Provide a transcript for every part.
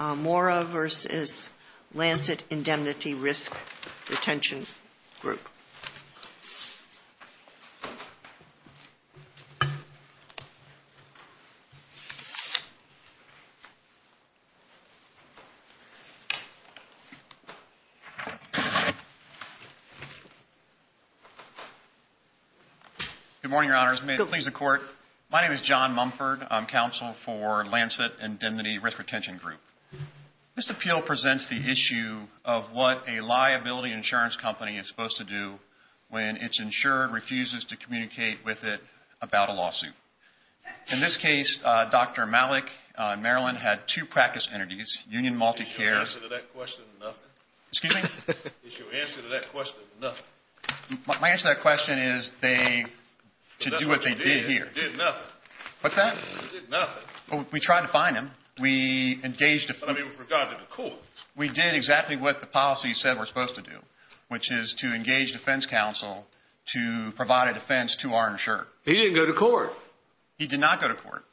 Mora v. Lancet Indemnity Risk Retention Group. Good morning, Your Honors. May it please the Court, my name is John Mumford. I'm counsel for Lancet Indemnity Risk Retention Group. This appeal presents the issue of what a liability insurance company is supposed to do when it's insured, refuses to communicate with it about a lawsuit. In this case, Dr. Malik in Maryland had two practice entities, Union MultiCare. Excuse me? My answer to that question is to do what they did here. What's that? We tried to find them. We engaged them. We did exactly what the policy said we're supposed to do, which is to engage defense counsel to provide a defense to our insurer. He didn't go to court. He did not go to court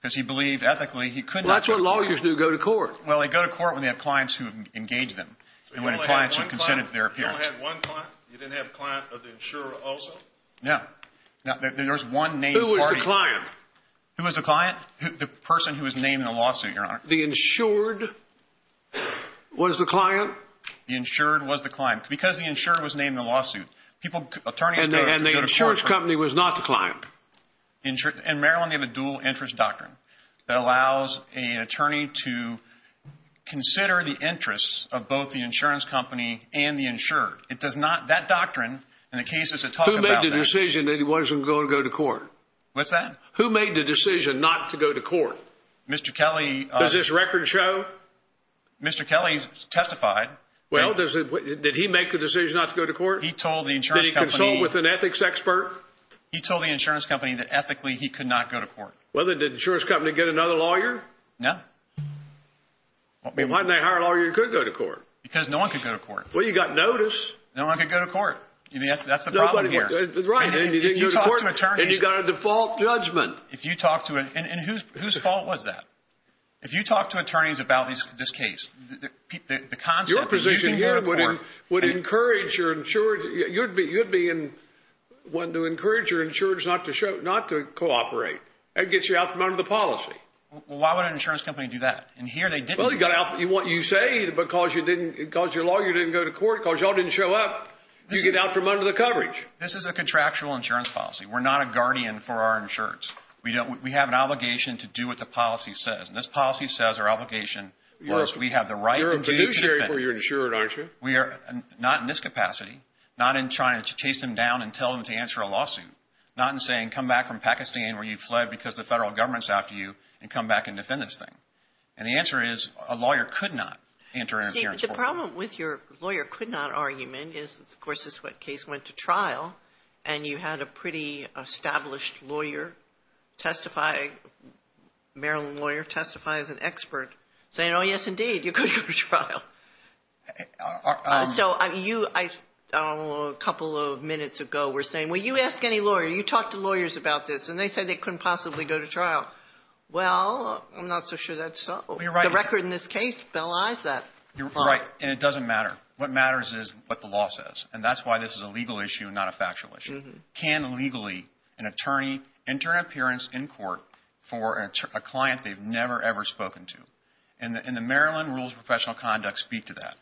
because he believed ethically he couldn't. That's what lawyers do, go to court. Well, they go to court when they have clients who have engaged them and when clients have consented to their appearance. You only had one client? You didn't have a client of the insurer also? No. There was one named party. Who was the client? Who was the client? The person who was named in the lawsuit, Your Honor. The insured was the client. Because the insured was named in the lawsuit, people, attorneys go to court. And the insurance company was not the client? In Maryland, they have a dual interest doctrine that allows an attorney to consider the interests of both the insurance company and the insured. It does not, that doctrine in the cases that talk about that. Who made the decision that he wasn't going to go to court? What's that? Who made the decision not to go to court? Mr. Kelly. Does this record show? Mr. Kelly testified. Well, did he make the decision not to go to court? He told the insurance company. Did he consult with an ethics expert? He told the insurance company that ethically he could not go to court. Well, then did the insurance company get another lawyer? No. Why didn't they hire a lawyer who could go to court? Because no one could go to court. Well, you got notice. No one could go to court. That's the problem here. Right, and you didn't go to court. And you got a default judgment. If you talk to an, and whose fault was that? If you talk to attorneys about this case, the concept that you can go to court. Your position here would encourage your insured, you'd be in, one to encourage your insured not to cooperate. That gets you out from under the policy. Well, why would an insurance company do that? And here they didn't. Well, you got out, you say because you didn't, because your lawyer didn't go to court, because y'all didn't show up, you get out from under the coverage. This is a contractual insurance policy. We're not a guardian for our insureds. We don't, we have an obligation to do what the policy says. And this policy says our obligation was we have the right. You're a fiduciary for your insured, aren't you? We are, not in this capacity. Not in trying to chase them down and tell them to answer a lawsuit. Not in saying come back from Pakistan where you fled because the federal government's after you and come back and defend this thing. And the answer is a lawyer could not enter an appearance. See, the problem with your lawyer could not argument is, of course, this case went to trial, and you had a pretty established lawyer testify, Maryland lawyer testify as an expert, saying, oh, yes, indeed, you could go to trial. So you, I don't know, a couple of minutes ago, were saying, well, you ask any lawyer, you talk to lawyers about this, and they said they couldn't possibly go to trial. Well, I'm not so sure that's so. The record in this case belies that. You're right, and it doesn't matter. What matters is what the law says. And that's why this is a legal issue and not a factual issue. Can legally an attorney enter an appearance in court for a client they've never, ever spoken to? And the Maryland Rules of Professional Conduct speak to that.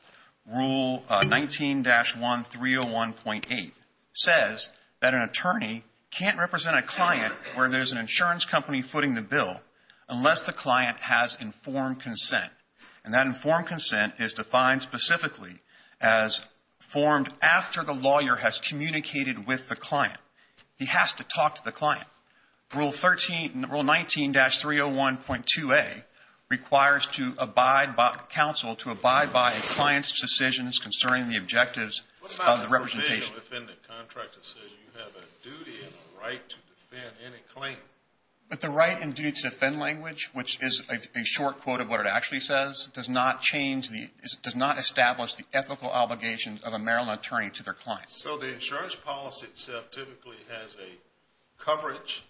Rule 19-1301.8 says that an attorney can't represent a client where there's an insurance company footing the bill unless the client has informed consent. And that informed consent is defined specifically as formed after the lawyer has communicated with the client. He has to talk to the client. Rule 13, Rule 19-301.2a requires to abide by counsel to abide by a client's decisions concerning the objectives of the representation. What about the provisional defendant contract that says you have a duty and a right to defend any claim? With the right and duty to defend language, which is a short quote of what it actually says, does not establish the ethical obligations of a Maryland attorney to their client. So the insurance policy itself typically has a coverage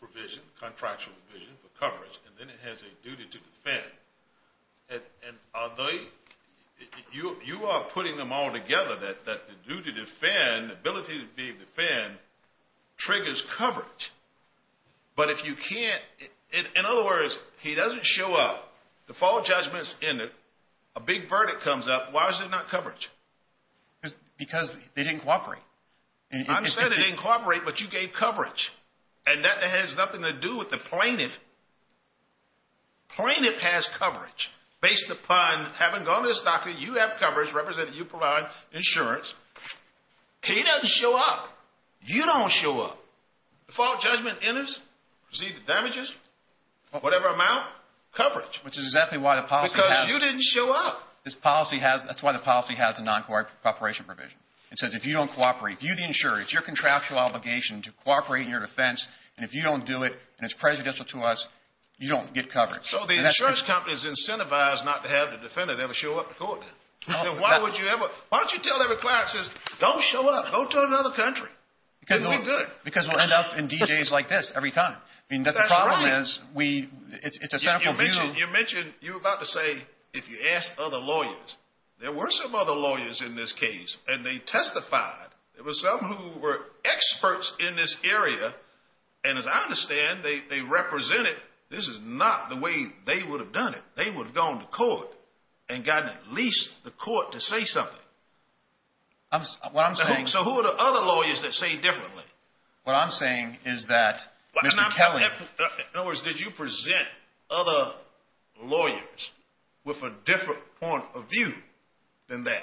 provision, contractual provision for coverage, and then it has a duty to defend. You are putting them all together that the duty to defend, ability to be able to defend, triggers coverage. But if you can't, in other words, if the plaintiff doesn't show up, the fault judgment's in it, a big verdict comes up, why is it not coverage? Because they didn't cooperate. I'm saying they didn't cooperate, but you gave coverage. And that has nothing to do with the plaintiff. Plaintiff has coverage. Based upon having gone to this doctor, you have coverage, representing you providing insurance. He doesn't show up. You don't show up. The fault judgment enters, receive the damages, whatever amount, coverage. Because you didn't show up. That's why the policy has a non-cooperation provision. It says if you don't cooperate, view the insurance, it's your contractual obligation to cooperate in your defense, and if you don't do it, and it's prejudicial to us, you don't get coverage. So the insurance companies incentivize not to have the defendant ever show up to court. Why don't you tell every client, don't show up, go to another country. Because we'll end up in DJs like this every time. You mentioned, you were about to say, if you ask other lawyers. There were some other lawyers in this case, and they testified. There were some who were experts in this area, and as I understand, they represented. This is not the way they would have done it. They would have gone to court and gotten at least the court to say something. So who are the other lawyers that say differently? What I'm saying is that Mr. Kelly. In other words, did you present other lawyers with a different point of view than that?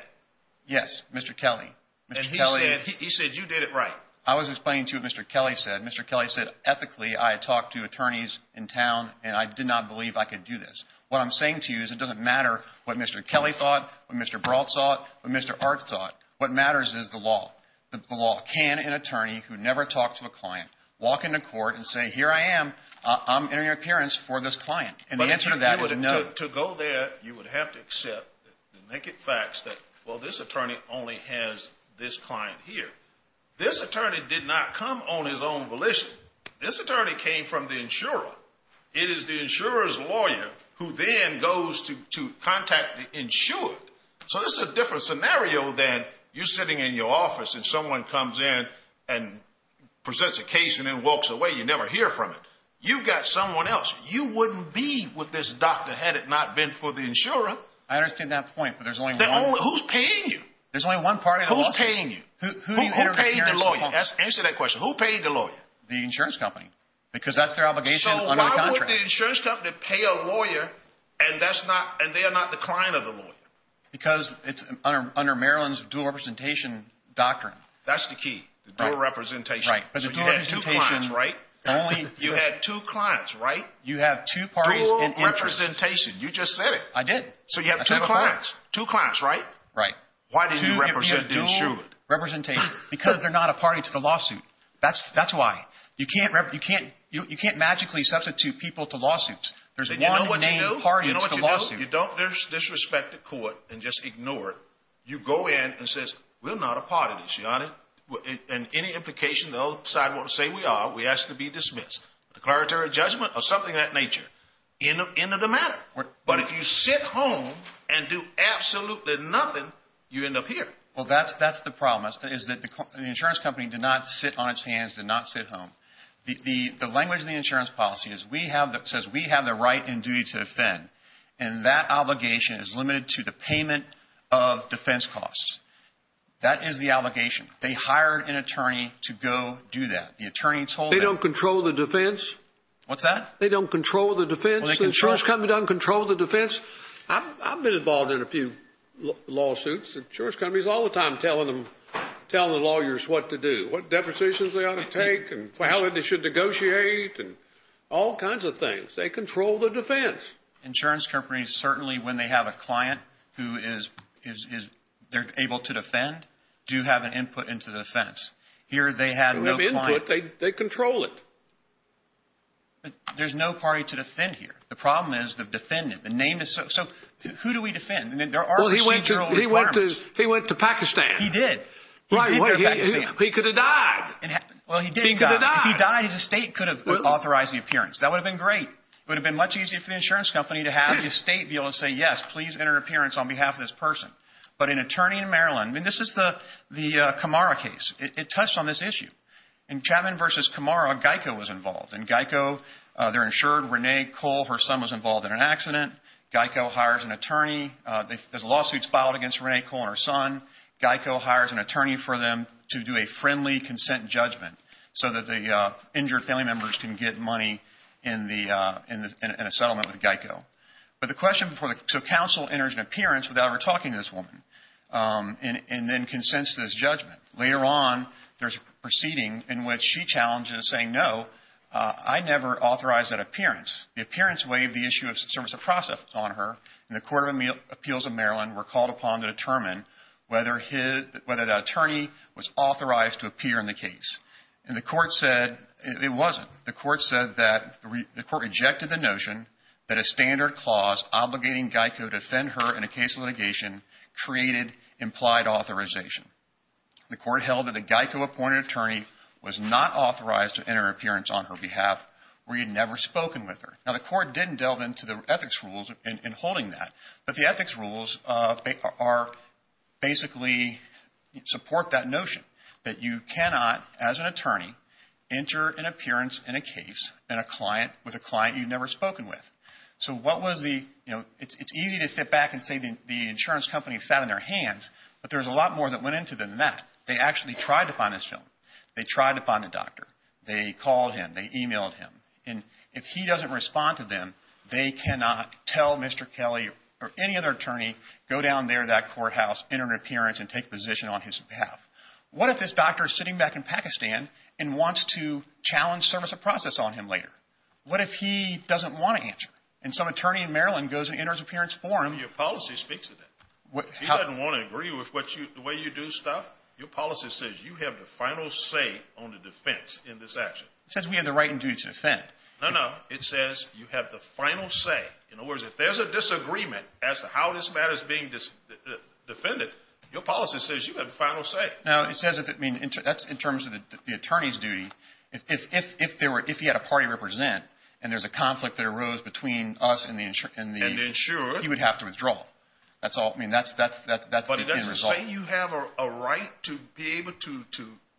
Yes, Mr. Kelly. And he said you did it right. I was explaining to him what Mr. Kelly said. Mr. Kelly said, ethically, I had talked to attorneys in town, and I did not believe I could do this. What I'm saying to you is it doesn't matter what Mr. Kelly thought, what Mr. Brault thought, what Mr. Art thought. What matters is the law. The law. Can an attorney who never talked to a client walk into court and say, here I am. I'm in your appearance for this client? And the answer to that is no. To go there, you would have to accept the naked facts that, well, this attorney only has this client here. This attorney did not come on his own volition. This attorney came from the insurer. It is the insurer's lawyer who then goes to contact the insured. So this is a different scenario than you sitting in your office and someone comes in and presents a case and then walks away. You never hear from it. You've got someone else. You wouldn't be with this doctor had it not been for the insurer. I understand that point, but there's only one. Who's paying you? There's only one party. Who's paying you? Who paid the lawyer? Answer that question. Who paid the lawyer? The insurance company. Because that's their obligation under the contract. Why would the insurance company pay a lawyer and they are not the client of the lawyer? Because it's under Maryland's dual representation doctrine. That's the key. Dual representation. Right. So you had two clients, right? You had two clients, right? You have two parties in interest. Dual representation. You just said it. I did. So you have two clients. Two clients, right? Right. Why did you represent the insured? Because they're not a party to the lawsuit. That's why. You can't magically substitute people to lawsuits. There's one named party to the lawsuit. You know what you do? You don't disrespect the court and just ignore it. You go in and says, we're not a party to this, Your Honor. And any implication the other side won't say we are, we ask to be dismissed. Declaratory judgment or something of that nature. End of the matter. But if you sit home and do absolutely nothing, you end up here. Well, that's the problem. The insurance company did not sit on its hands, did not sit home. The language in the insurance policy says we have the right and duty to defend. And that obligation is limited to the payment of defense costs. That is the obligation. They hired an attorney to go do that. The attorney told them. They don't control the defense? What's that? They don't control the defense? The insurance company doesn't control the defense? I've been involved in a few lawsuits. Insurance companies all the time telling the lawyers what to do, what depositions they ought to take and how they should negotiate and all kinds of things. They control the defense. Insurance companies, certainly when they have a client who they're able to defend, do have an input into the defense. Here they had no client. They control it. There's no party to defend here. The problem is the defendant. So who do we defend? There are procedural requirements. He went to Pakistan. He did. He did go to Pakistan. He could have died. Well, he did die. If he died, his estate could have authorized the appearance. That would have been great. It would have been much easier for the insurance company to have the estate be able to say, yes, please enter an appearance on behalf of this person. But an attorney in Maryland, I mean, this is the Camara case. It touched on this issue. In Chapman v. Camara, Geico was involved. In Geico, they're insured. Renee Cole, her son, was involved in an accident. Geico hires an attorney. There's lawsuits filed against Renee Cole and her son. Geico hires an attorney for them to do a friendly consent judgment so that the injured family members can get money in a settlement with Geico. So counsel enters an appearance without ever talking to this woman and then consents to this judgment. Later on, there's a proceeding in which she challenges saying, no, I never authorized that appearance. The appearance waived the issue of service of process on her, and the Court of Appeals of Maryland were called upon to determine whether the attorney was authorized to appear in the case. And the court said it wasn't. The court said that the court rejected the notion that a standard clause obligating Geico to defend her in a case of litigation created implied authorization. The court held that the Geico-appointed attorney was not authorized to enter an appearance on her behalf where he had never spoken with her. Now, the court didn't delve into the ethics rules in holding that, but the ethics rules basically support that notion that you cannot, as an attorney, enter an appearance in a case with a client you've never spoken with. So it's easy to sit back and say the insurance company sat on their hands, but there's a lot more that went into than that. They actually tried to find this film. They tried to find the doctor. They called him. They emailed him. And if he doesn't respond to them, they cannot tell Mr. Kelly or any other attorney, go down there to that courthouse, enter an appearance, and take position on his behalf. What if this doctor is sitting back in Pakistan and wants to challenge service of process on him later? What if he doesn't want to answer, and some attorney in Maryland goes and enters an appearance for him? Your policy speaks to that. He doesn't want to agree with the way you do stuff. Your policy says you have the final say on the defense in this action. It says we have the right and duty to defend. No, no. It says you have the final say. In other words, if there's a disagreement as to how this matter is being defended, your policy says you have the final say. Now, it says that's in terms of the attorney's duty. If he had a party represent and there's a conflict that arose between us and the insurer, he would have to withdraw. I mean, that's the end result. Don't you say you have a right to be able to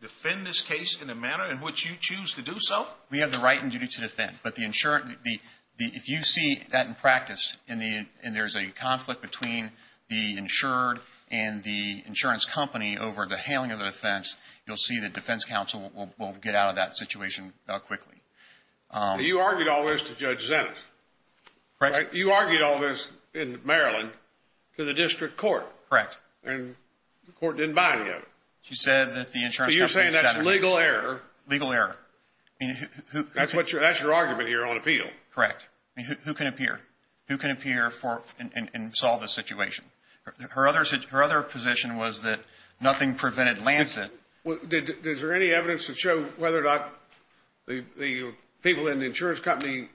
defend this case in the manner in which you choose to do so? We have the right and duty to defend. But if you see that in practice and there's a conflict between the insured and the insurance company over the handling of the defense, you'll see the defense counsel will get out of that situation quickly. You argued all this to Judge Zenitz. Correct. You argued all this in Maryland to the district court. Correct. And the court didn't buy any of it. She said that the insurance company was satisfied. So you're saying that's legal error. Legal error. That's your argument here on appeal. Correct. Who can appear? Who can appear and solve this situation? Her other position was that nothing prevented Lancet. Is there any evidence to show whether or not the people in the insurance company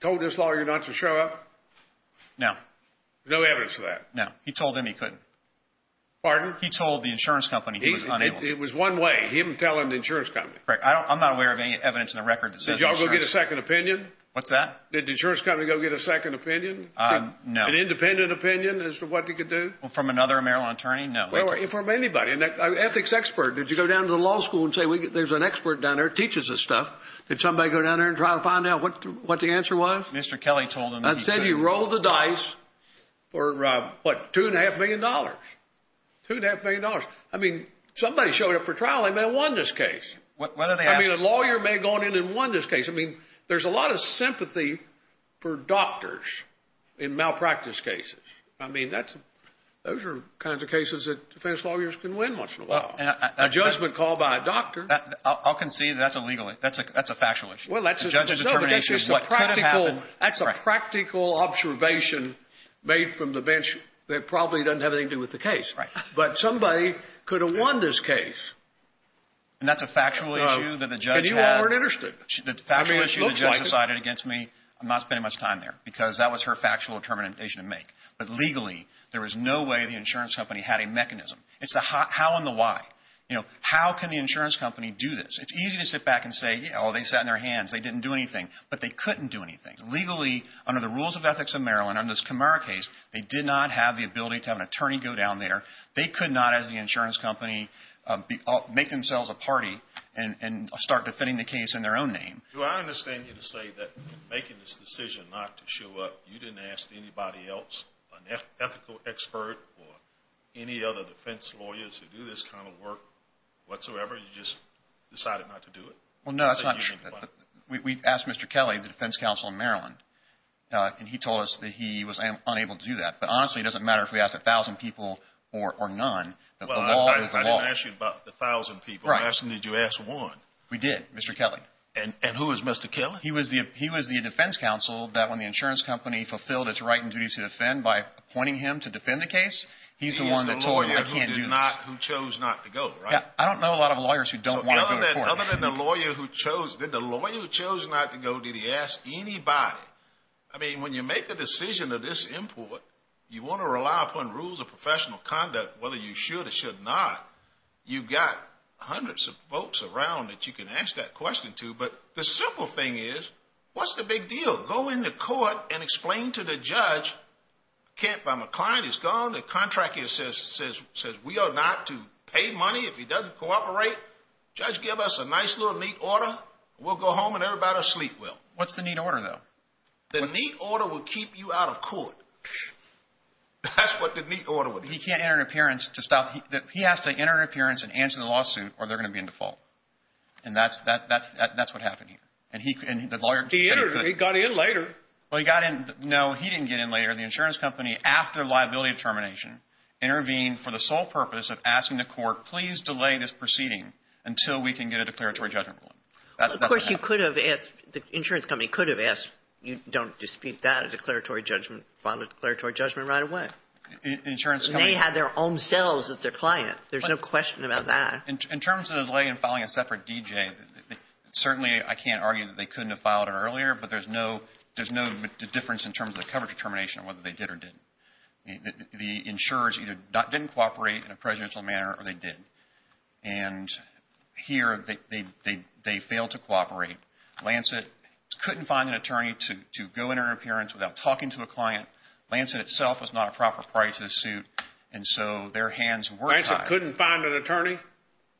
told this lawyer not to show up? No. No evidence of that? No. He told them he couldn't. Pardon? He told the insurance company he was unable to. It was one way, him telling the insurance company. Correct. I'm not aware of any evidence in the record that says insurance. Did you all go get a second opinion? What's that? Did the insurance company go get a second opinion? No. An independent opinion as to what they could do? From another Maryland attorney? No. Well, from anybody. An ethics expert. Did you go down to the law school and say there's an expert down there that teaches this stuff? Did somebody go down there and try to find out what the answer was? Mr. Kelly told them that he couldn't. For what? Two and a half million dollars. Two and a half million dollars. I mean, somebody showed up for trial, they may have won this case. I mean, a lawyer may have gone in and won this case. I mean, there's a lot of sympathy for doctors in malpractice cases. I mean, those are the kinds of cases that defense lawyers can win once in a while. A judgment called by a doctor. I'll concede that's a legal issue. That's a factual issue. A judge's determination is what could have happened. That's a practical observation made from the bench that probably doesn't have anything to do with the case. Right. But somebody could have won this case. And that's a factual issue that the judge had. And you all weren't interested. The factual issue the judge decided against me, I'm not spending much time there because that was her factual determination to make. But legally, there was no way the insurance company had a mechanism. It's the how and the why. You know, how can the insurance company do this? It's easy to sit back and say, oh, they sat on their hands, they didn't do anything. But they couldn't do anything. Legally, under the rules of ethics of Maryland, under this Camara case, they did not have the ability to have an attorney go down there. They could not, as the insurance company, make themselves a party and start defending the case in their own name. Do I understand you to say that making this decision not to show up, you didn't ask anybody else, an ethical expert or any other defense lawyers who do this kind of work whatsoever? You just decided not to do it? Well, no, that's not true. We asked Mr. Kelly, the defense counsel in Maryland, and he told us that he was unable to do that. But honestly, it doesn't matter if we asked 1,000 people or none. The law is the law. Well, I didn't ask you about the 1,000 people. I asked him did you ask one. We did, Mr. Kelly. And who is Mr. Kelly? He was the defense counsel that when the insurance company fulfilled its right and duty to defend by appointing him to defend the case, he's the one that told you I can't do this. He's the lawyer who chose not to go, right? I don't know a lot of lawyers who don't want to go to court. Other than the lawyer who chose not to go, did he ask anybody? I mean, when you make a decision of this import, you want to rely upon rules of professional conduct, whether you should or should not. You've got hundreds of folks around that you can ask that question to. But the simple thing is, what's the big deal? Go in the court and explain to the judge, my client is gone. The contract here says we are not to pay money if he doesn't cooperate. Judge, give us a nice little neat order. We'll go home and everybody will sleep well. What's the neat order, though? The neat order will keep you out of court. That's what the neat order would be. He can't enter an appearance to stop. He has to enter an appearance and answer the lawsuit or they're going to be in default. And that's what happened here. And the lawyer said he couldn't. He got in later. Well, he got in. No, he didn't get in later. The insurance company, after liability determination, intervened for the sole purpose of asking the court, please delay this proceeding until we can get a declaratory judgment ruling. That's what happened. Of course, you could have asked, the insurance company could have asked, you don't dispute that, a declaratory judgment, file a declaratory judgment right away. Insurance company. They had their own selves as their client. There's no question about that. In terms of the delay in filing a separate DJ, certainly I can't argue that they couldn't have filed it earlier, but there's no difference in terms of the coverage and liability determination of whether they did or didn't. The insurers either didn't cooperate in a presidential manner or they did. And here, they failed to cooperate. Lancet couldn't find an attorney to go into an appearance without talking to a client. Lancet itself was not a proper party to the suit, and so their hands were tied. Lancet couldn't find an attorney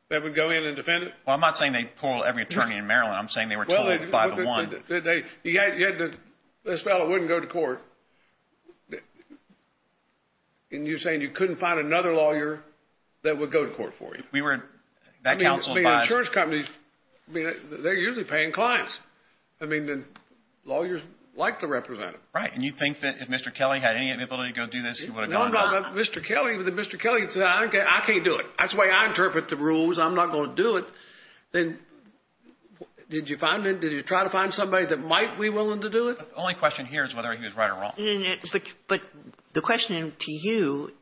that would go in and defend it? Well, I'm not saying they pulled every attorney in Maryland. I'm saying they were told by the one. This fellow wouldn't go to court, and you're saying you couldn't find another lawyer that would go to court for you? We were, that counsel advised. I mean, insurance companies, they're usually paying clients. I mean, lawyers like to represent them. Right, and you think that if Mr. Kelly had any ability to go do this, he would have gone? No, I'm talking about Mr. Kelly. Mr. Kelly said, I can't do it. That's the way I interpret the rules. I'm not going to do it. Then did you find him? Did you try to find somebody that might be willing to do it? The only question here is whether he was right or wrong. But the question to you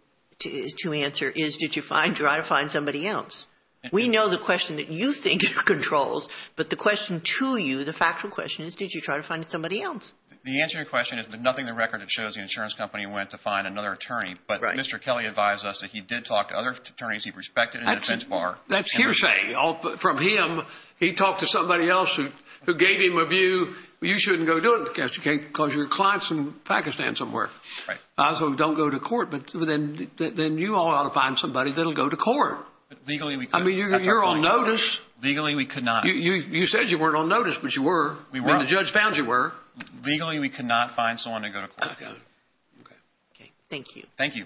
to answer is did you try to find somebody else? We know the question that you think controls, but the question to you, the factual question, is did you try to find somebody else? The answer to your question is nothing in the record that shows the insurance company went to find another attorney. Right. But Mr. Kelly advised us that he did talk to other attorneys he respected in the defense bar. That's hearsay from him. He talked to somebody else who gave him a view. You shouldn't go do it because your client's in Pakistan somewhere. Right. So don't go to court. But then you ought to find somebody that will go to court. Legally, we could. I mean, you're on notice. Legally, we could not. You said you weren't on notice, but you were. We were. And the judge found you were. Legally, we could not find someone to go to court. Okay. Thank you. Thank you. Thank you.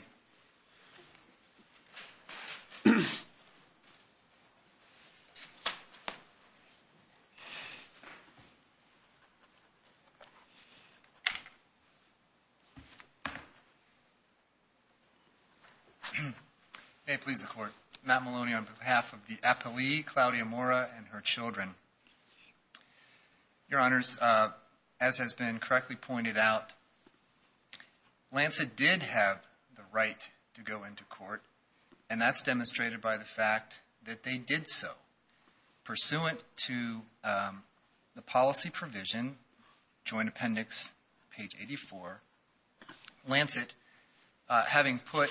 May it please the Court. Matt Maloney on behalf of the appellee, Claudia Mora, and her children. Your Honors, as has been correctly pointed out, Lancet did have the right to go into court, and that's demonstrated by the fact that they did so. Pursuant to the policy provision, Joint Appendix, page 84, Lancet, having put,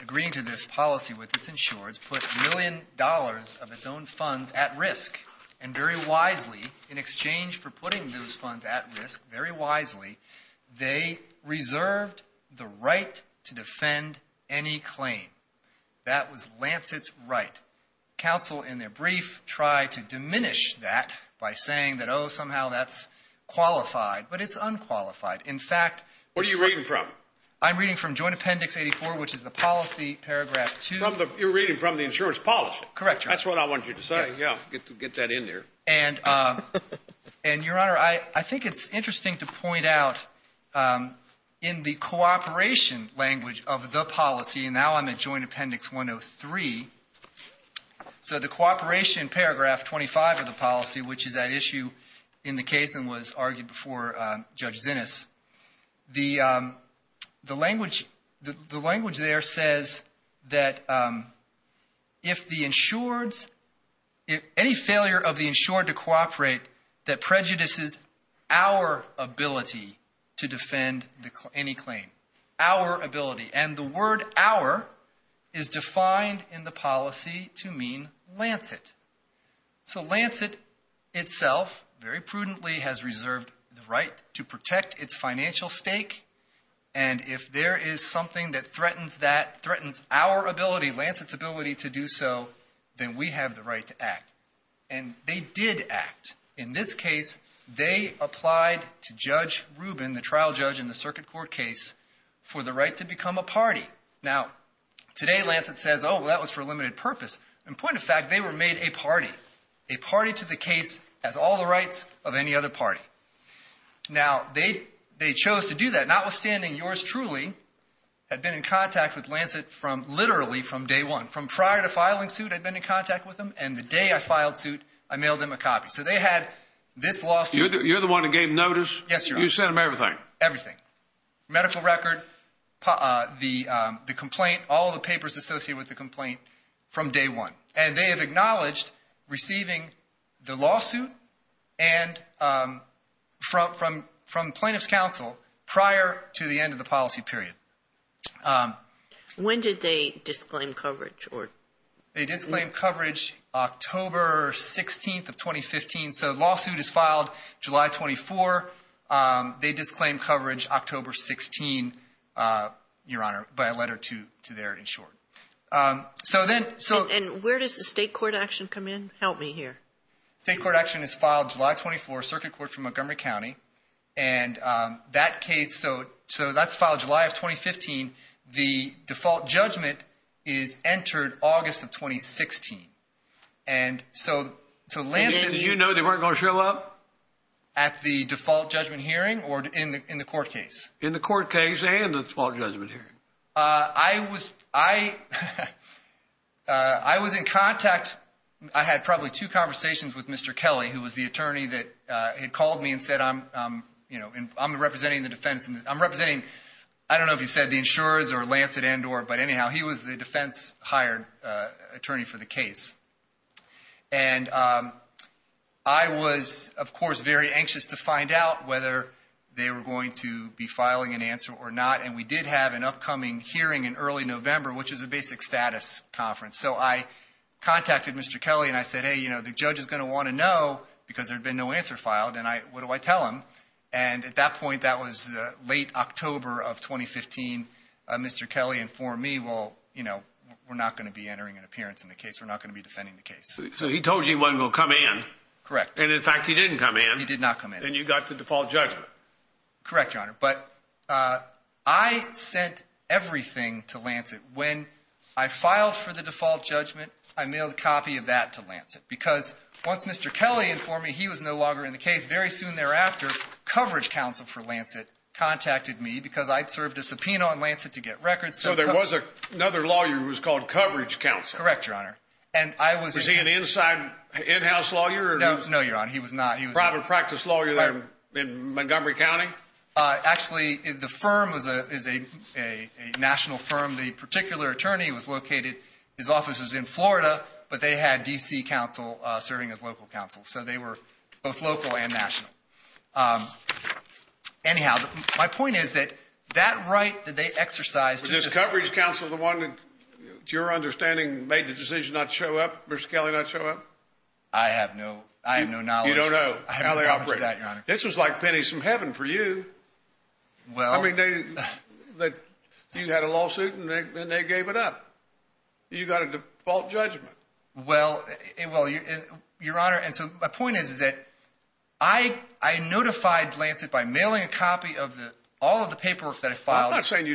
agreeing to this policy with its insurers, put a million dollars of its own funds at risk. And very wisely, in exchange for putting those funds at risk, very wisely, they reserved the right to defend any claim. That was Lancet's right. Counsel, in their brief, tried to diminish that by saying that, oh, somehow that's qualified. But it's unqualified. In fact, What are you reading from? I'm reading from Joint Appendix 84, which is the policy paragraph 2. You're reading from the insurance policy. Correct, Your Honor. That's what I wanted you to say. Yeah, get that in there. And, Your Honor, I think it's interesting to point out, in the cooperation language of the policy, and now I'm at Joint Appendix 103, so the cooperation paragraph 25 of the policy, which is at issue in the case and was argued before Judge Zinnes, the language there says that if the insureds, if any failure of the insured to cooperate, that prejudices our ability to defend any claim. Our ability. And the word our is defined in the policy to mean Lancet. So Lancet itself very prudently has reserved the right to protect its financial stake. And if there is something that threatens that, threatens our ability, Lancet's ability to do so, then we have the right to act. And they did act. In this case, they applied to Judge Rubin, the trial judge in the circuit court case, for the right to become a party. Now, today Lancet says, oh, well, that was for a limited purpose. In point of fact, they were made a party. A party to the case has all the rights of any other party. Now, they chose to do that, notwithstanding yours truly had been in contact with Lancet from, literally, from day one. From prior to filing suit, I'd been in contact with them, and the day I filed suit, I mailed them a copy. So they had this lawsuit. You're the one who gave notice? Yes, Your Honor. You sent them everything? Everything. Medical record, the complaint, all the papers associated with the complaint from day one. And they have acknowledged receiving the lawsuit from plaintiff's counsel prior to the end of the policy period. When did they disclaim coverage? They disclaimed coverage October 16th of 2015. So the lawsuit is filed July 24. They disclaimed coverage October 16th, Your Honor, by a letter to their insured. And where does the state court action come in? Help me here. State court action is filed July 24, Circuit Court for Montgomery County. And that case, so that's filed July of 2015. The default judgment is entered August of 2016. And so Lancet— And you know they weren't going to show up? At the default judgment hearing or in the court case? In the court case and the default judgment hearing. I was in contact. I had probably two conversations with Mr. Kelly, who was the attorney that had called me and said I'm representing the defense. I'm representing, I don't know if you said the insurers or Lancet and or, but anyhow, he was the defense hired attorney for the case. And I was, of course, very anxious to find out whether they were going to be filing an answer or not. And we did have an upcoming hearing in early November, which is a basic status conference. So I contacted Mr. Kelly and I said, hey, you know, the judge is going to want to know because there had been no answer filed. And what do I tell him? And at that point, that was late October of 2015, Mr. Kelly informed me, well, you know, we're not going to be entering an appearance in the case. We're not going to be defending the case. So he told you he wasn't going to come in. Correct. And in fact, he didn't come in. He did not come in. And you got the default judgment. Correct, Your Honor. But I sent everything to Lancet. When I filed for the default judgment, I mailed a copy of that to Lancet because once Mr. Kelly informed me he was no longer in the case, very soon thereafter, coverage counsel for Lancet contacted me because I'd served a subpoena on Lancet to get records. So there was another lawyer who was called coverage counsel. Correct, Your Honor. Was he an inside in-house lawyer? No, Your Honor, he was not. He was a private practice lawyer there in Montgomery County? Actually, the firm is a national firm. The particular attorney was located, his office was in Florida, but they had D.C. counsel serving as local counsel. So they were both local and national. Anyhow, my point is that that right that they exercised. Was this coverage counsel the one that, to your understanding, made the decision not to show up, Mr. Kelly not show up? I have no knowledge. You don't know how they operate. I have no knowledge of that, Your Honor. This was like pennies from heaven for you. Well. I mean, you had a lawsuit and they gave it up. You got a default judgment. Well, Your Honor, and so my point is that I notified Lancet by mailing a copy of all of the paperwork that I filed. Well, I'm not saying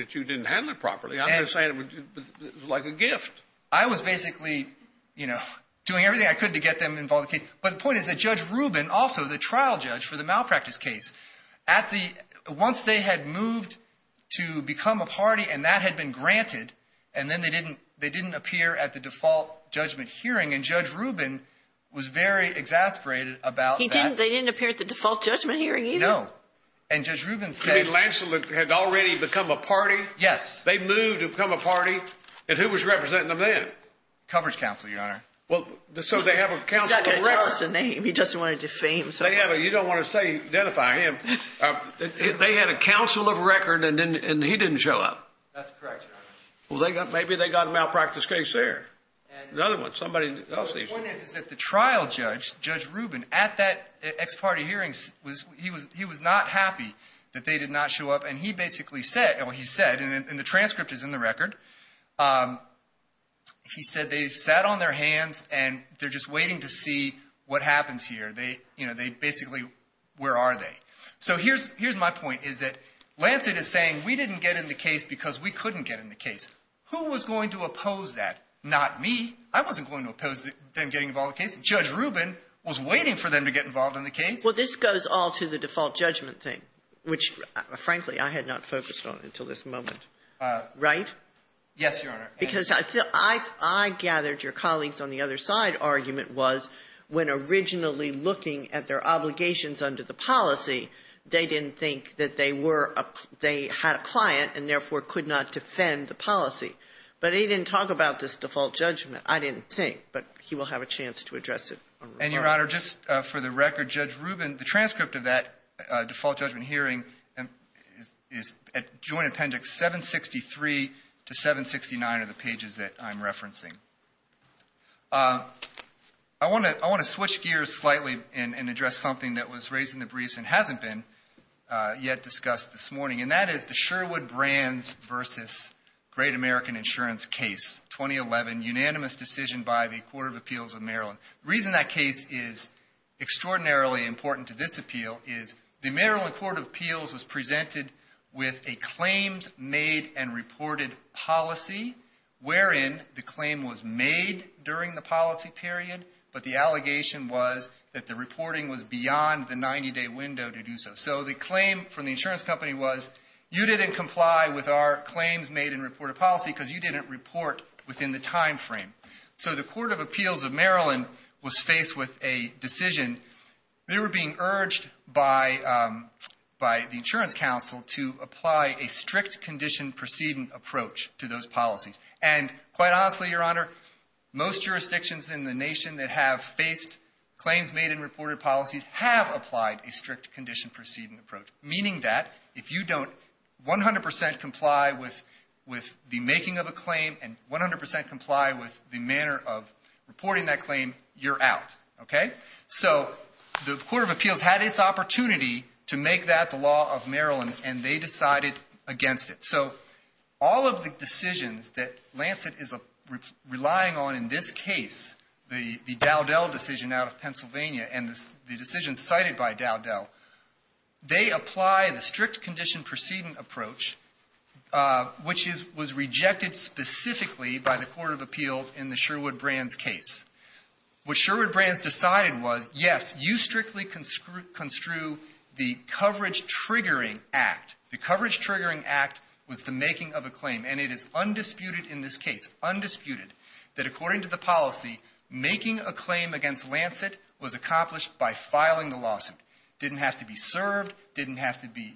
that you didn't handle it properly. I'm just saying it was like a gift. I was basically doing everything I could to get them involved in the case. But the point is that Judge Rubin, also the trial judge for the malpractice case, once they had moved to become a party and that had been granted, and then they didn't appear at the default judgment hearing, and Judge Rubin was very exasperated about that. They didn't appear at the default judgment hearing either? No. And Judge Rubin said. You mean Lancelot had already become a party? Yes. They moved to become a party, and who was representing them then? Coverage counsel, Your Honor. Well, so they have a counsel of record. He's not going to tell us a name. He doesn't want to defame someone. You don't want to identify him. They had a counsel of record and he didn't show up. That's correct, Your Honor. Well, maybe they got a malpractice case there. The other one, somebody else. The point is that the trial judge, Judge Rubin, at that ex parte hearing, he was not happy that they did not show up, and he basically said, and the transcript is in the record, he said they sat on their hands and they're just waiting to see what happens here. They basically, where are they? So here's my point, is that Lancet is saying we didn't get in the case because we couldn't get in the case. Who was going to oppose that? Not me. I wasn't going to oppose them getting involved in the case. Judge Rubin was waiting for them to get involved in the case. Well, this goes all to the default judgment thing, which, frankly, I had not focused on until this moment, right? Yes, Your Honor. Because I gathered your colleagues on the other side argument was when originally looking at their obligations under the policy, they didn't think that they were a they had a client and therefore could not defend the policy. But he didn't talk about this default judgment. I didn't think, but he will have a chance to address it. And, Your Honor, just for the record, Judge Rubin, the transcript of that default judgment hearing is joint appendix 763 to 769 of the pages that I'm referencing. I want to switch gears slightly and address something that was raised in the briefs and hasn't been yet discussed this morning, and that is the Sherwood Brands v. Great American Insurance case, 2011, unanimous decision by the Court of Appeals of Maryland. The reason that case is extraordinarily important to this appeal is the Maryland Court of Appeals was presented with a claims-made and reported policy wherein the claim was made during the policy period, but the allegation was that the reporting was beyond the 90-day window to do so. So the claim from the insurance company was, you didn't comply with our claims-made and reported policy because you didn't report within the time frame. So the Court of Appeals of Maryland was faced with a decision. They were being urged by the insurance counsel to apply a strict condition proceeding approach to those policies. And quite honestly, Your Honor, most jurisdictions in the nation that have faced claims-made and reported policies have applied a strict condition proceeding approach, meaning that if you don't 100 percent comply with the making of a claim and 100 percent comply with the manner of reporting that claim, you're out. So the Court of Appeals had its opportunity to make that the law of Maryland, and they decided against it. So all of the decisions that Lancet is relying on in this case, the Dowdell decision out of Pennsylvania, and the decision cited by Dowdell, they apply the strict condition proceeding approach, which was rejected specifically by the Court of Appeals in the Sherwood-Brands case. What Sherwood-Brands decided was, yes, you strictly construe the coverage-triggering act. The coverage-triggering act was the making of a claim, and it is undisputed in this case, undisputed, that according to the policy, making a claim against Lancet was accomplished by filing the lawsuit. It didn't have to be served. It didn't have to be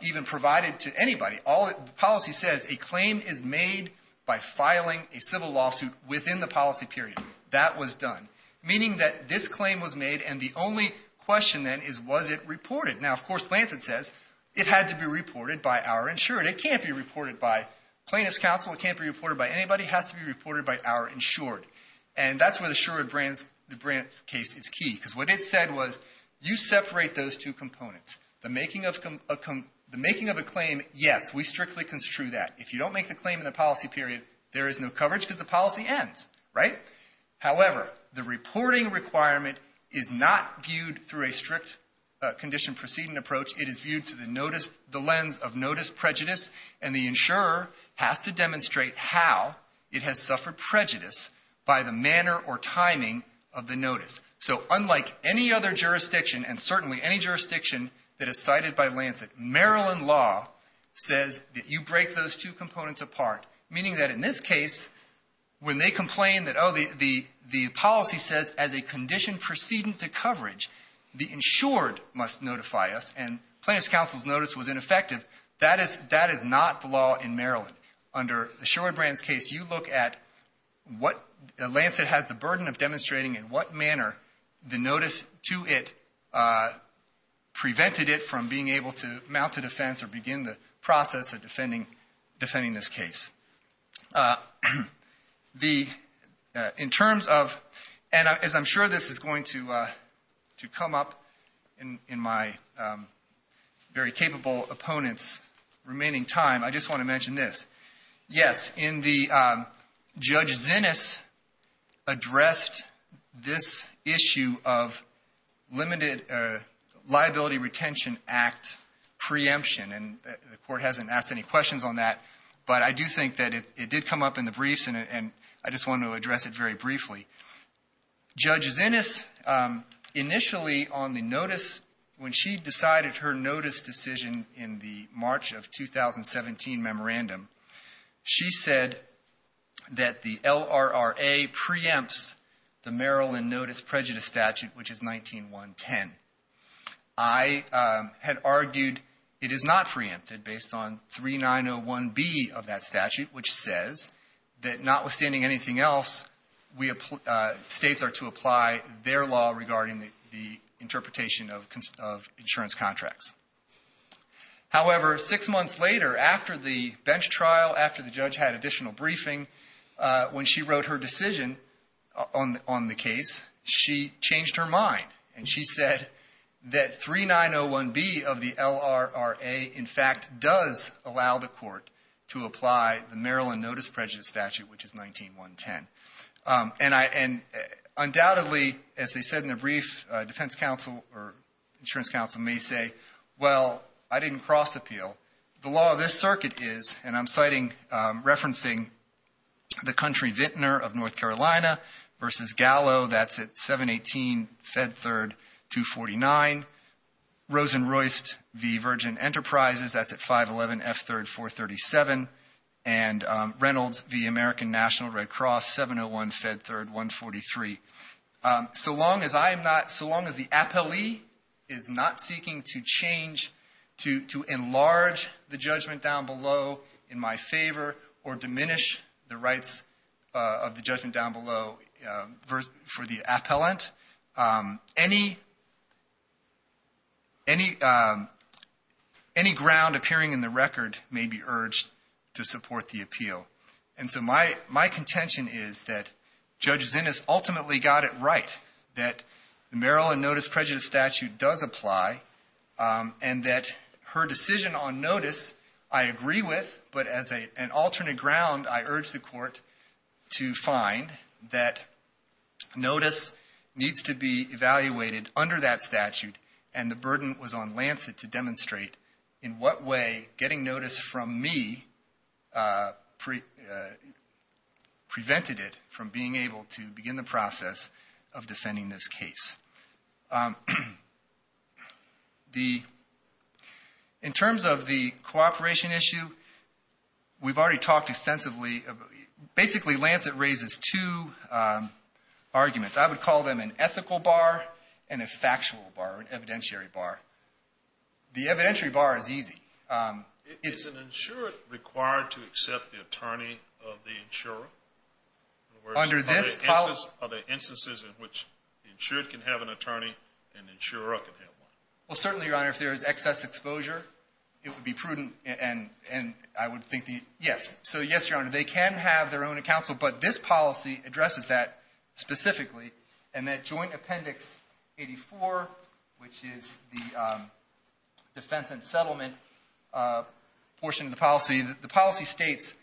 even provided to anybody. The policy says a claim is made by filing a civil lawsuit within the policy period. That was done, meaning that this claim was made, and the only question then is, was it reported? Now, of course, Lancet says it had to be reported by our insured. It can't be reported by plaintiff's counsel. It can't be reported by anybody. It has to be reported by our insured, and that's where the Sherwood-Brands case is key because what it said was, you separate those two components. The making of a claim, yes, we strictly construe that. If you don't make the claim in the policy period, there is no coverage because the policy ends, right? However, the reporting requirement is not viewed through a strict condition proceeding approach. It is viewed through the lens of notice prejudice, and the insurer has to demonstrate how it has suffered prejudice by the manner or timing of the notice. So unlike any other jurisdiction, and certainly any jurisdiction that is cited by Lancet, Maryland law says that you break those two components apart, meaning that in this case, when they complain that, oh, the policy says, as a condition proceeding to coverage, the insured must notify us, and plaintiff's counsel's notice was ineffective, that is not the law in Maryland. Under the Sherwood-Brands case, you look at what Lancet has the burden of demonstrating and what manner the notice to it prevented it from being able to mount a defense or begin the process of defending this case. In terms of, and as I'm sure this is going to come up in my very capable opponent's remaining time, I just want to mention this. Yes, in the, Judge Zinnes addressed this issue of limited liability retention act preemption, and the court hasn't asked any questions on that, but I do think that it did come up in the briefs, and I just wanted to address it very briefly. Judge Zinnes, initially on the notice, when she decided her notice decision in the March of 2017 memorandum, she said that the LRRA preempts the Maryland Notice Prejudice Statute, which is 19-110. I had argued it is not preempted based on 3901B of that statute, which says that notwithstanding anything else, states are to apply their law regarding the interpretation of insurance contracts. However, six months later, after the bench trial, after the judge had additional briefing, when she wrote her decision on the case, she changed her mind, and she said that 3901B of the LRRA, in fact, does allow the court to apply the Maryland Notice Prejudice Statute, which is 19-110. And undoubtedly, as they said in the brief, defense counsel or insurance counsel may say, well, I didn't cross appeal. The law of this circuit is, and I'm citing, referencing the country Vintner of North Carolina versus Gallo, that's at 718 Fed Third 249. Rosen-Royst v. Virgin Enterprises, that's at 511 F Third 437. And Reynolds v. American National Red Cross, 701 Fed Third 143. So long as I am not, so long as the appellee is not seeking to change, to enlarge the judgment down below in my favor or diminish the rights of the judgment down below for the appellant, any ground appearing in the record may be urged to support the appeal. And so my contention is that Judge Zinnes ultimately got it right, that the Maryland Notice Prejudice Statute does apply, and that her decision on notice I agree with. But as an alternate ground, I urge the court to find that notice needs to be evaluated under that statute, and the burden was on Lancet to demonstrate in what way getting notice from me prevented it from being able to begin the process of defending this case. In terms of the cooperation issue, we've already talked extensively. Basically, Lancet raises two arguments. I would call them an ethical bar and a factual bar, an evidentiary bar. The evidentiary bar is easy. Is an insurer required to accept the attorney of the insurer? In other words, are there instances in which the insured can have an attorney and the insurer can have one? Well, certainly, Your Honor, if there is excess exposure, it would be prudent, and I would think that yes. So yes, Your Honor, they can have their own counsel, but this policy addresses that specifically, and that Joint Appendix 84, which is the defense and settlement portion of the policy, the policy states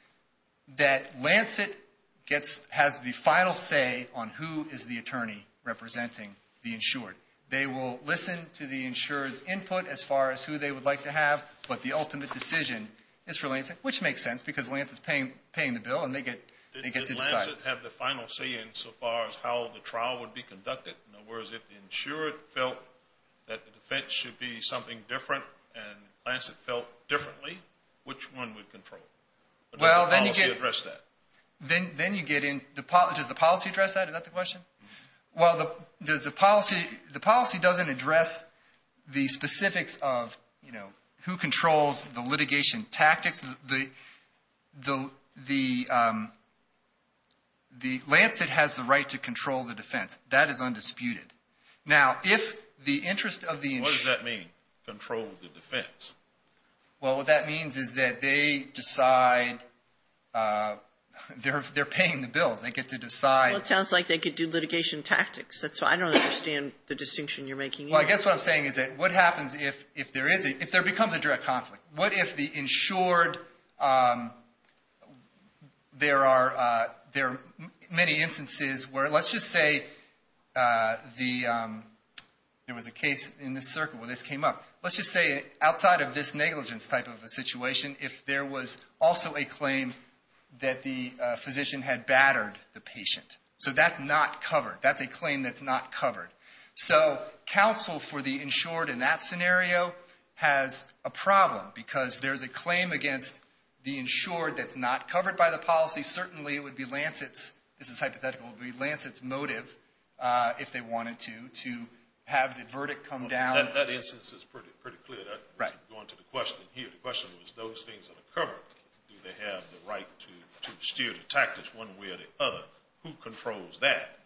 that Lancet has the final say on who is the attorney representing the insured. They will listen to the insured's input as far as who they would like to have, but the ultimate decision is for Lancet, which makes sense because Lancet is paying the bill, and they get to decide. Did Lancet have the final say in so far as how the trial would be conducted? In other words, if the insured felt that the defense should be something different and Lancet felt differently, which one would control? Does the policy address that? Does the policy address that? Is that the question? Well, the policy doesn't address the specifics of who controls the litigation tactics. Lancet has the right to control the defense. That is undisputed. What does that mean, control the defense? Well, what that means is that they decide they're paying the bills. They get to decide. Well, it sounds like they could do litigation tactics. That's why I don't understand the distinction you're making here. Well, I guess what I'm saying is that what happens if there becomes a direct conflict? What if the insured, there are many instances where let's just say there was a case in this circuit where this came up. Let's just say outside of this negligence type of a situation, if there was also a claim that the physician had battered the patient. So that's not covered. That's a claim that's not covered. So counsel for the insured in that scenario has a problem because there's a claim against the insured that's not covered by the policy. Certainly, it would be Lancet's, this is hypothetical, it would be Lancet's motive if they wanted to, to have the verdict come down. That instance is pretty clear. Go on to the question here. The question was those things are covered. Do they have the right to steer the tactics one way or the other? Who controls that?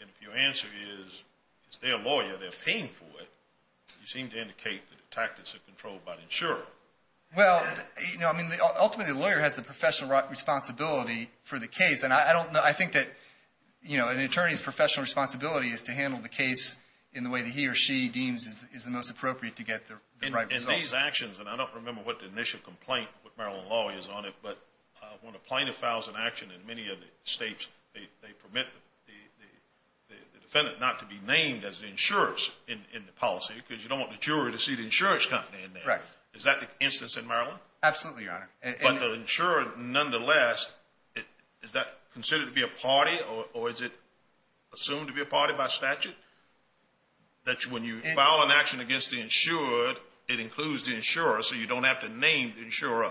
And if your answer is it's their lawyer, they're paying for it, you seem to indicate that the tactics are controlled by the insurer. Well, ultimately, the lawyer has the professional responsibility for the case. And I think that an attorney's professional responsibility is to handle the case in the way that he or she deems is the most appropriate to get the right result. In these actions, and I don't remember what the initial complaint with Maryland law is on it, but when a plaintiff files an action in many of the states, they permit the defendant not to be named as the insurers in the policy because you don't want the jury to see the insurance company in there. Correct. Absolutely, Your Honor. But the insurer, nonetheless, is that considered to be a party or is it assumed to be a party by statute that when you file an action against the insured, it includes the insurer so you don't have to name the insurer?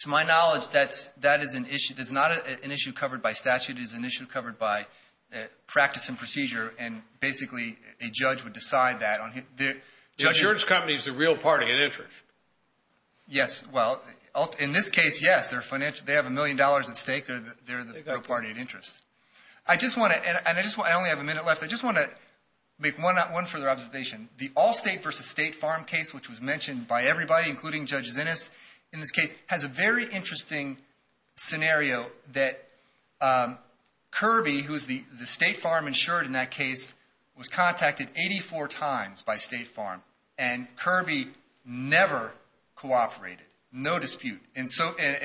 To my knowledge, that is an issue. It's not an issue covered by statute. It's an issue covered by practice and procedure, and basically a judge would decide that. The insurance company is the real party in interest. Yes, well, in this case, yes. They have a million dollars at stake. They're the real party in interest. I just want to, and I only have a minute left, I just want to make one further observation. The Allstate v. State Farm case, which was mentioned by everybody, including Judge Zinnes, in this case, has a very interesting scenario that Kirby, who is the State Farm insured in that case, was contacted 84 times by State Farm. And Kirby never cooperated, no dispute. And,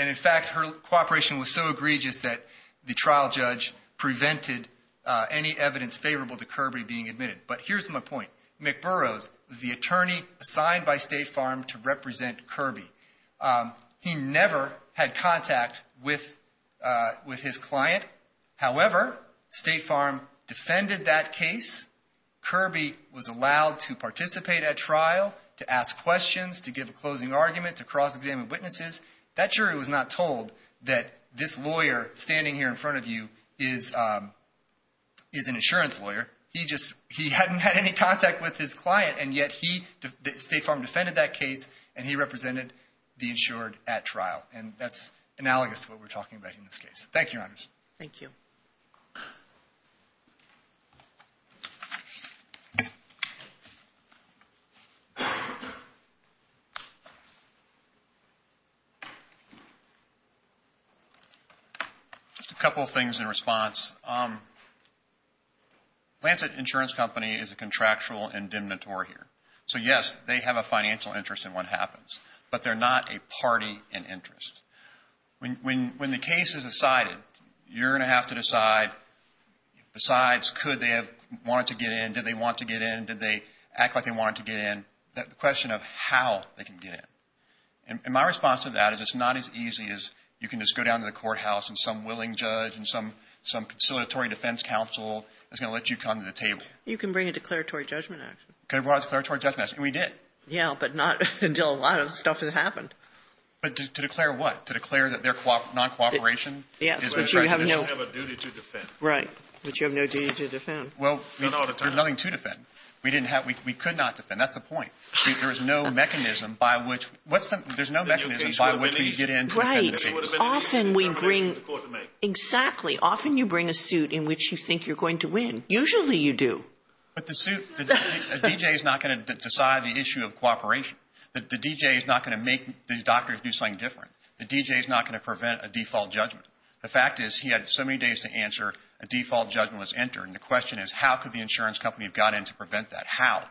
in fact, her cooperation was so egregious that the trial judge prevented any evidence favorable to Kirby being admitted. But here's my point. McBurroughs was the attorney assigned by State Farm to represent Kirby. He never had contact with his client. However, State Farm defended that case. Kirby was allowed to participate at trial, to ask questions, to give a closing argument, to cross-examine witnesses. That jury was not told that this lawyer standing here in front of you is an insurance lawyer. He hadn't had any contact with his client, and yet State Farm defended that case, and he represented the insured at trial. And that's analogous to what we're talking about in this case. Thank you, Your Honors. Thank you. Thank you. Just a couple of things in response. Lancet Insurance Company is a contractual indemnitory here. So, yes, they have a financial interest in what happens, but they're not a party in interest. When the case is decided, you're going to have to decide, besides could they have wanted to get in, did they want to get in, did they act like they wanted to get in, the question of how they can get in. And my response to that is it's not as easy as you can just go down to the courthouse and some willing judge and some conciliatory defense counsel is going to let you come to the table. You can bring a declaratory judgment action. We brought a declaratory judgment action. We did. But to declare what? To declare that they're non-cooperation? Yes. But you have no duty to defend. Right. But you have no duty to defend. Well, there's nothing to defend. We didn't have – we could not defend. That's the point. There is no mechanism by which – what's the – there's no mechanism by which we get in to defend the case. Right. Often we bring – exactly. Often you bring a suit in which you think you're going to win. Usually you do. But the suit – the D.J. is not going to decide the issue of cooperation. The D.J. is not going to make these doctors do something different. The D.J. is not going to prevent a default judgment. The fact is he had so many days to answer, a default judgment was entered. And the question is how could the insurance company have got in to prevent that? How?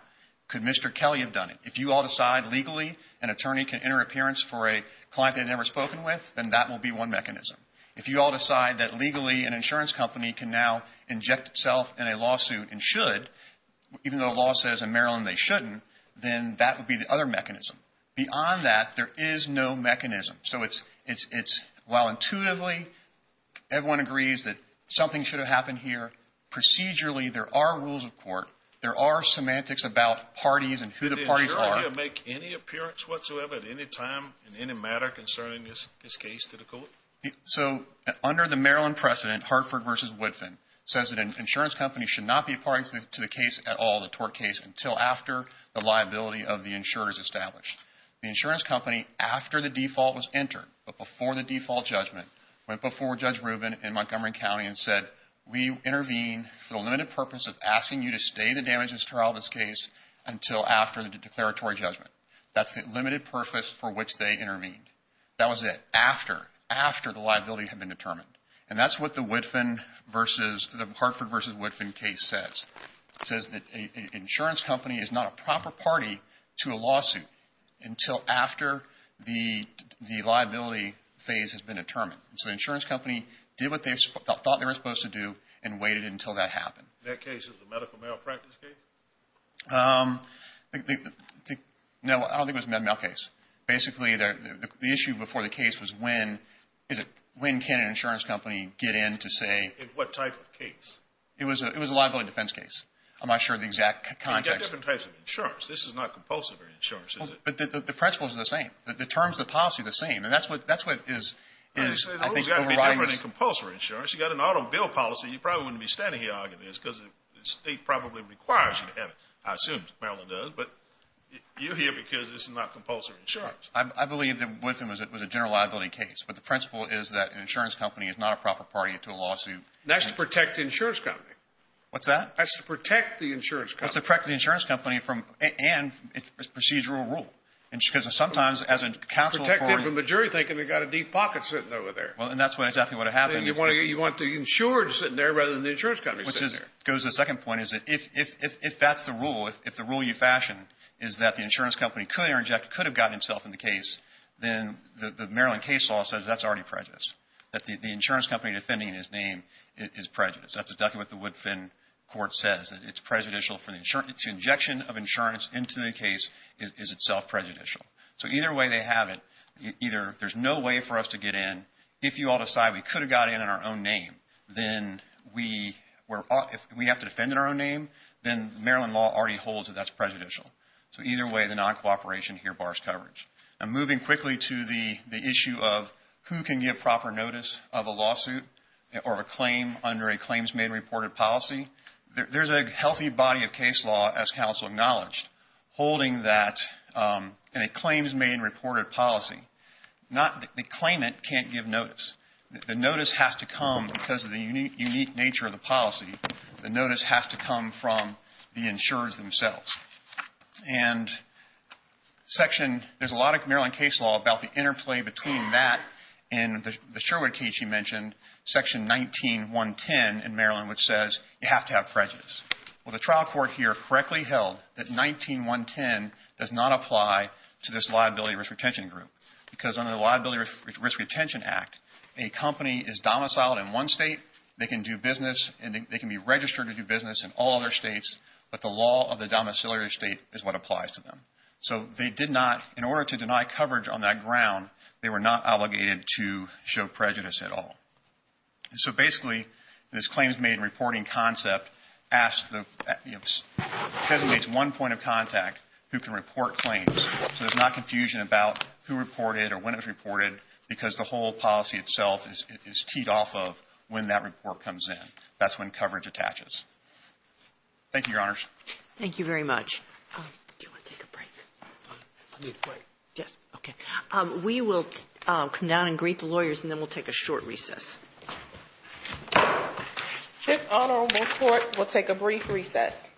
Could Mr. Kelly have done it? If you all decide legally an attorney can enter an appearance for a client they've never spoken with, then that will be one mechanism. If you all decide that legally an insurance company can now inject itself in a lawsuit and should, even though the law says in Maryland they shouldn't, then that would be the other mechanism. Beyond that, there is no mechanism. So it's – while intuitively everyone agrees that something should have happened here, procedurally there are rules of court. There are semantics about parties and who the parties are. Did the insurer here make any appearance whatsoever at any time in any matter concerning this case to the court? So under the Maryland precedent, Hartford v. Woodfin says that an insurance company should not be a party to the case at all, the tort case, until after the liability of the insurer is established. The insurance company, after the default was entered, but before the default judgment, went before Judge Rubin in Montgomery County and said, we intervene for the limited purpose of asking you to stay the damages trial of this case until after the declaratory judgment. That's the limited purpose for which they intervened. That was it, after, after the liability had been determined. And that's what the Hartford v. Woodfin case says. It says that an insurance company is not a proper party to a lawsuit until after the liability phase has been determined. So the insurance company did what they thought they were supposed to do and waited until that happened. That case is a medical malpractice case? No, I don't think it was a medical malpractice case. Basically, the issue before the case was when, is it, when can an insurance company get in to say? In what type of case? It was a liability defense case. I'm not sure of the exact context. You've got different types of insurance. This is not compulsory insurance, is it? But the principles are the same. The terms of the policy are the same. And that's what is, I think, overriding this. Well, it's got to be different than compulsory insurance. You've got an auto bill policy. You probably wouldn't be standing here arguing this because the state probably requires you to have it. I assume Maryland does. But you're here because this is not compulsory insurance. I believe that Woodfin was a general liability case. But the principle is that an insurance company is not a proper party to a lawsuit. That's to protect the insurance company. What's that? That's to protect the insurance company. That's to protect the insurance company from, and it's a procedural rule. Because sometimes, as a council authority. Protect it from a jury thinking they've got a deep pocket sitting over there. Well, and that's exactly what happened. You want the insured sitting there rather than the insurance company sitting there. It goes to the second point is that if that's the rule, if the rule you fashioned is that the insurance company could have gotten itself in the case, then the Maryland case law says that's already prejudice. That the insurance company defending his name is prejudice. That's exactly what the Woodfin court says. It's prejudicial to injection of insurance into the case is itself prejudicial. So either way they have it, either there's no way for us to get in. If you all decide we could have got in on our own name, then we have to defend in our own name, then Maryland law already holds that that's prejudicial. So either way, the non-cooperation here bars coverage. And moving quickly to the issue of who can give proper notice of a lawsuit or a claim under a claims made and reported policy. There's a healthy body of case law, as council acknowledged, holding that in a claims made and reported policy. The claimant can't give notice. The notice has to come because of the unique nature of the policy. The notice has to come from the insurers themselves. And there's a lot of Maryland case law about the interplay between that and the Sherwood case you mentioned, section 19.110 in Maryland, which says you have to have prejudice. Well, the trial court here correctly held that 19.110 does not apply to this liability risk retention group because under the Liability Risk Retention Act, a company is domiciled in one state, they can do business, and they can be registered to do business in all other states, but the law of the domiciliary state is what applies to them. So they did not, in order to deny coverage on that ground, they were not obligated to show prejudice at all. So basically, this claims made and reporting concept designates one point of contact who can report claims, so there's not confusion about who reported or when it was reported because the whole policy itself is teed off of when that report comes in. That's when coverage attaches. Thank you, Your Honors. Thank you very much. Do you want to take a break? I need a break. Yes, okay. We will come down and greet the lawyers, and then we'll take a short recess. This honorable court will take a brief recess.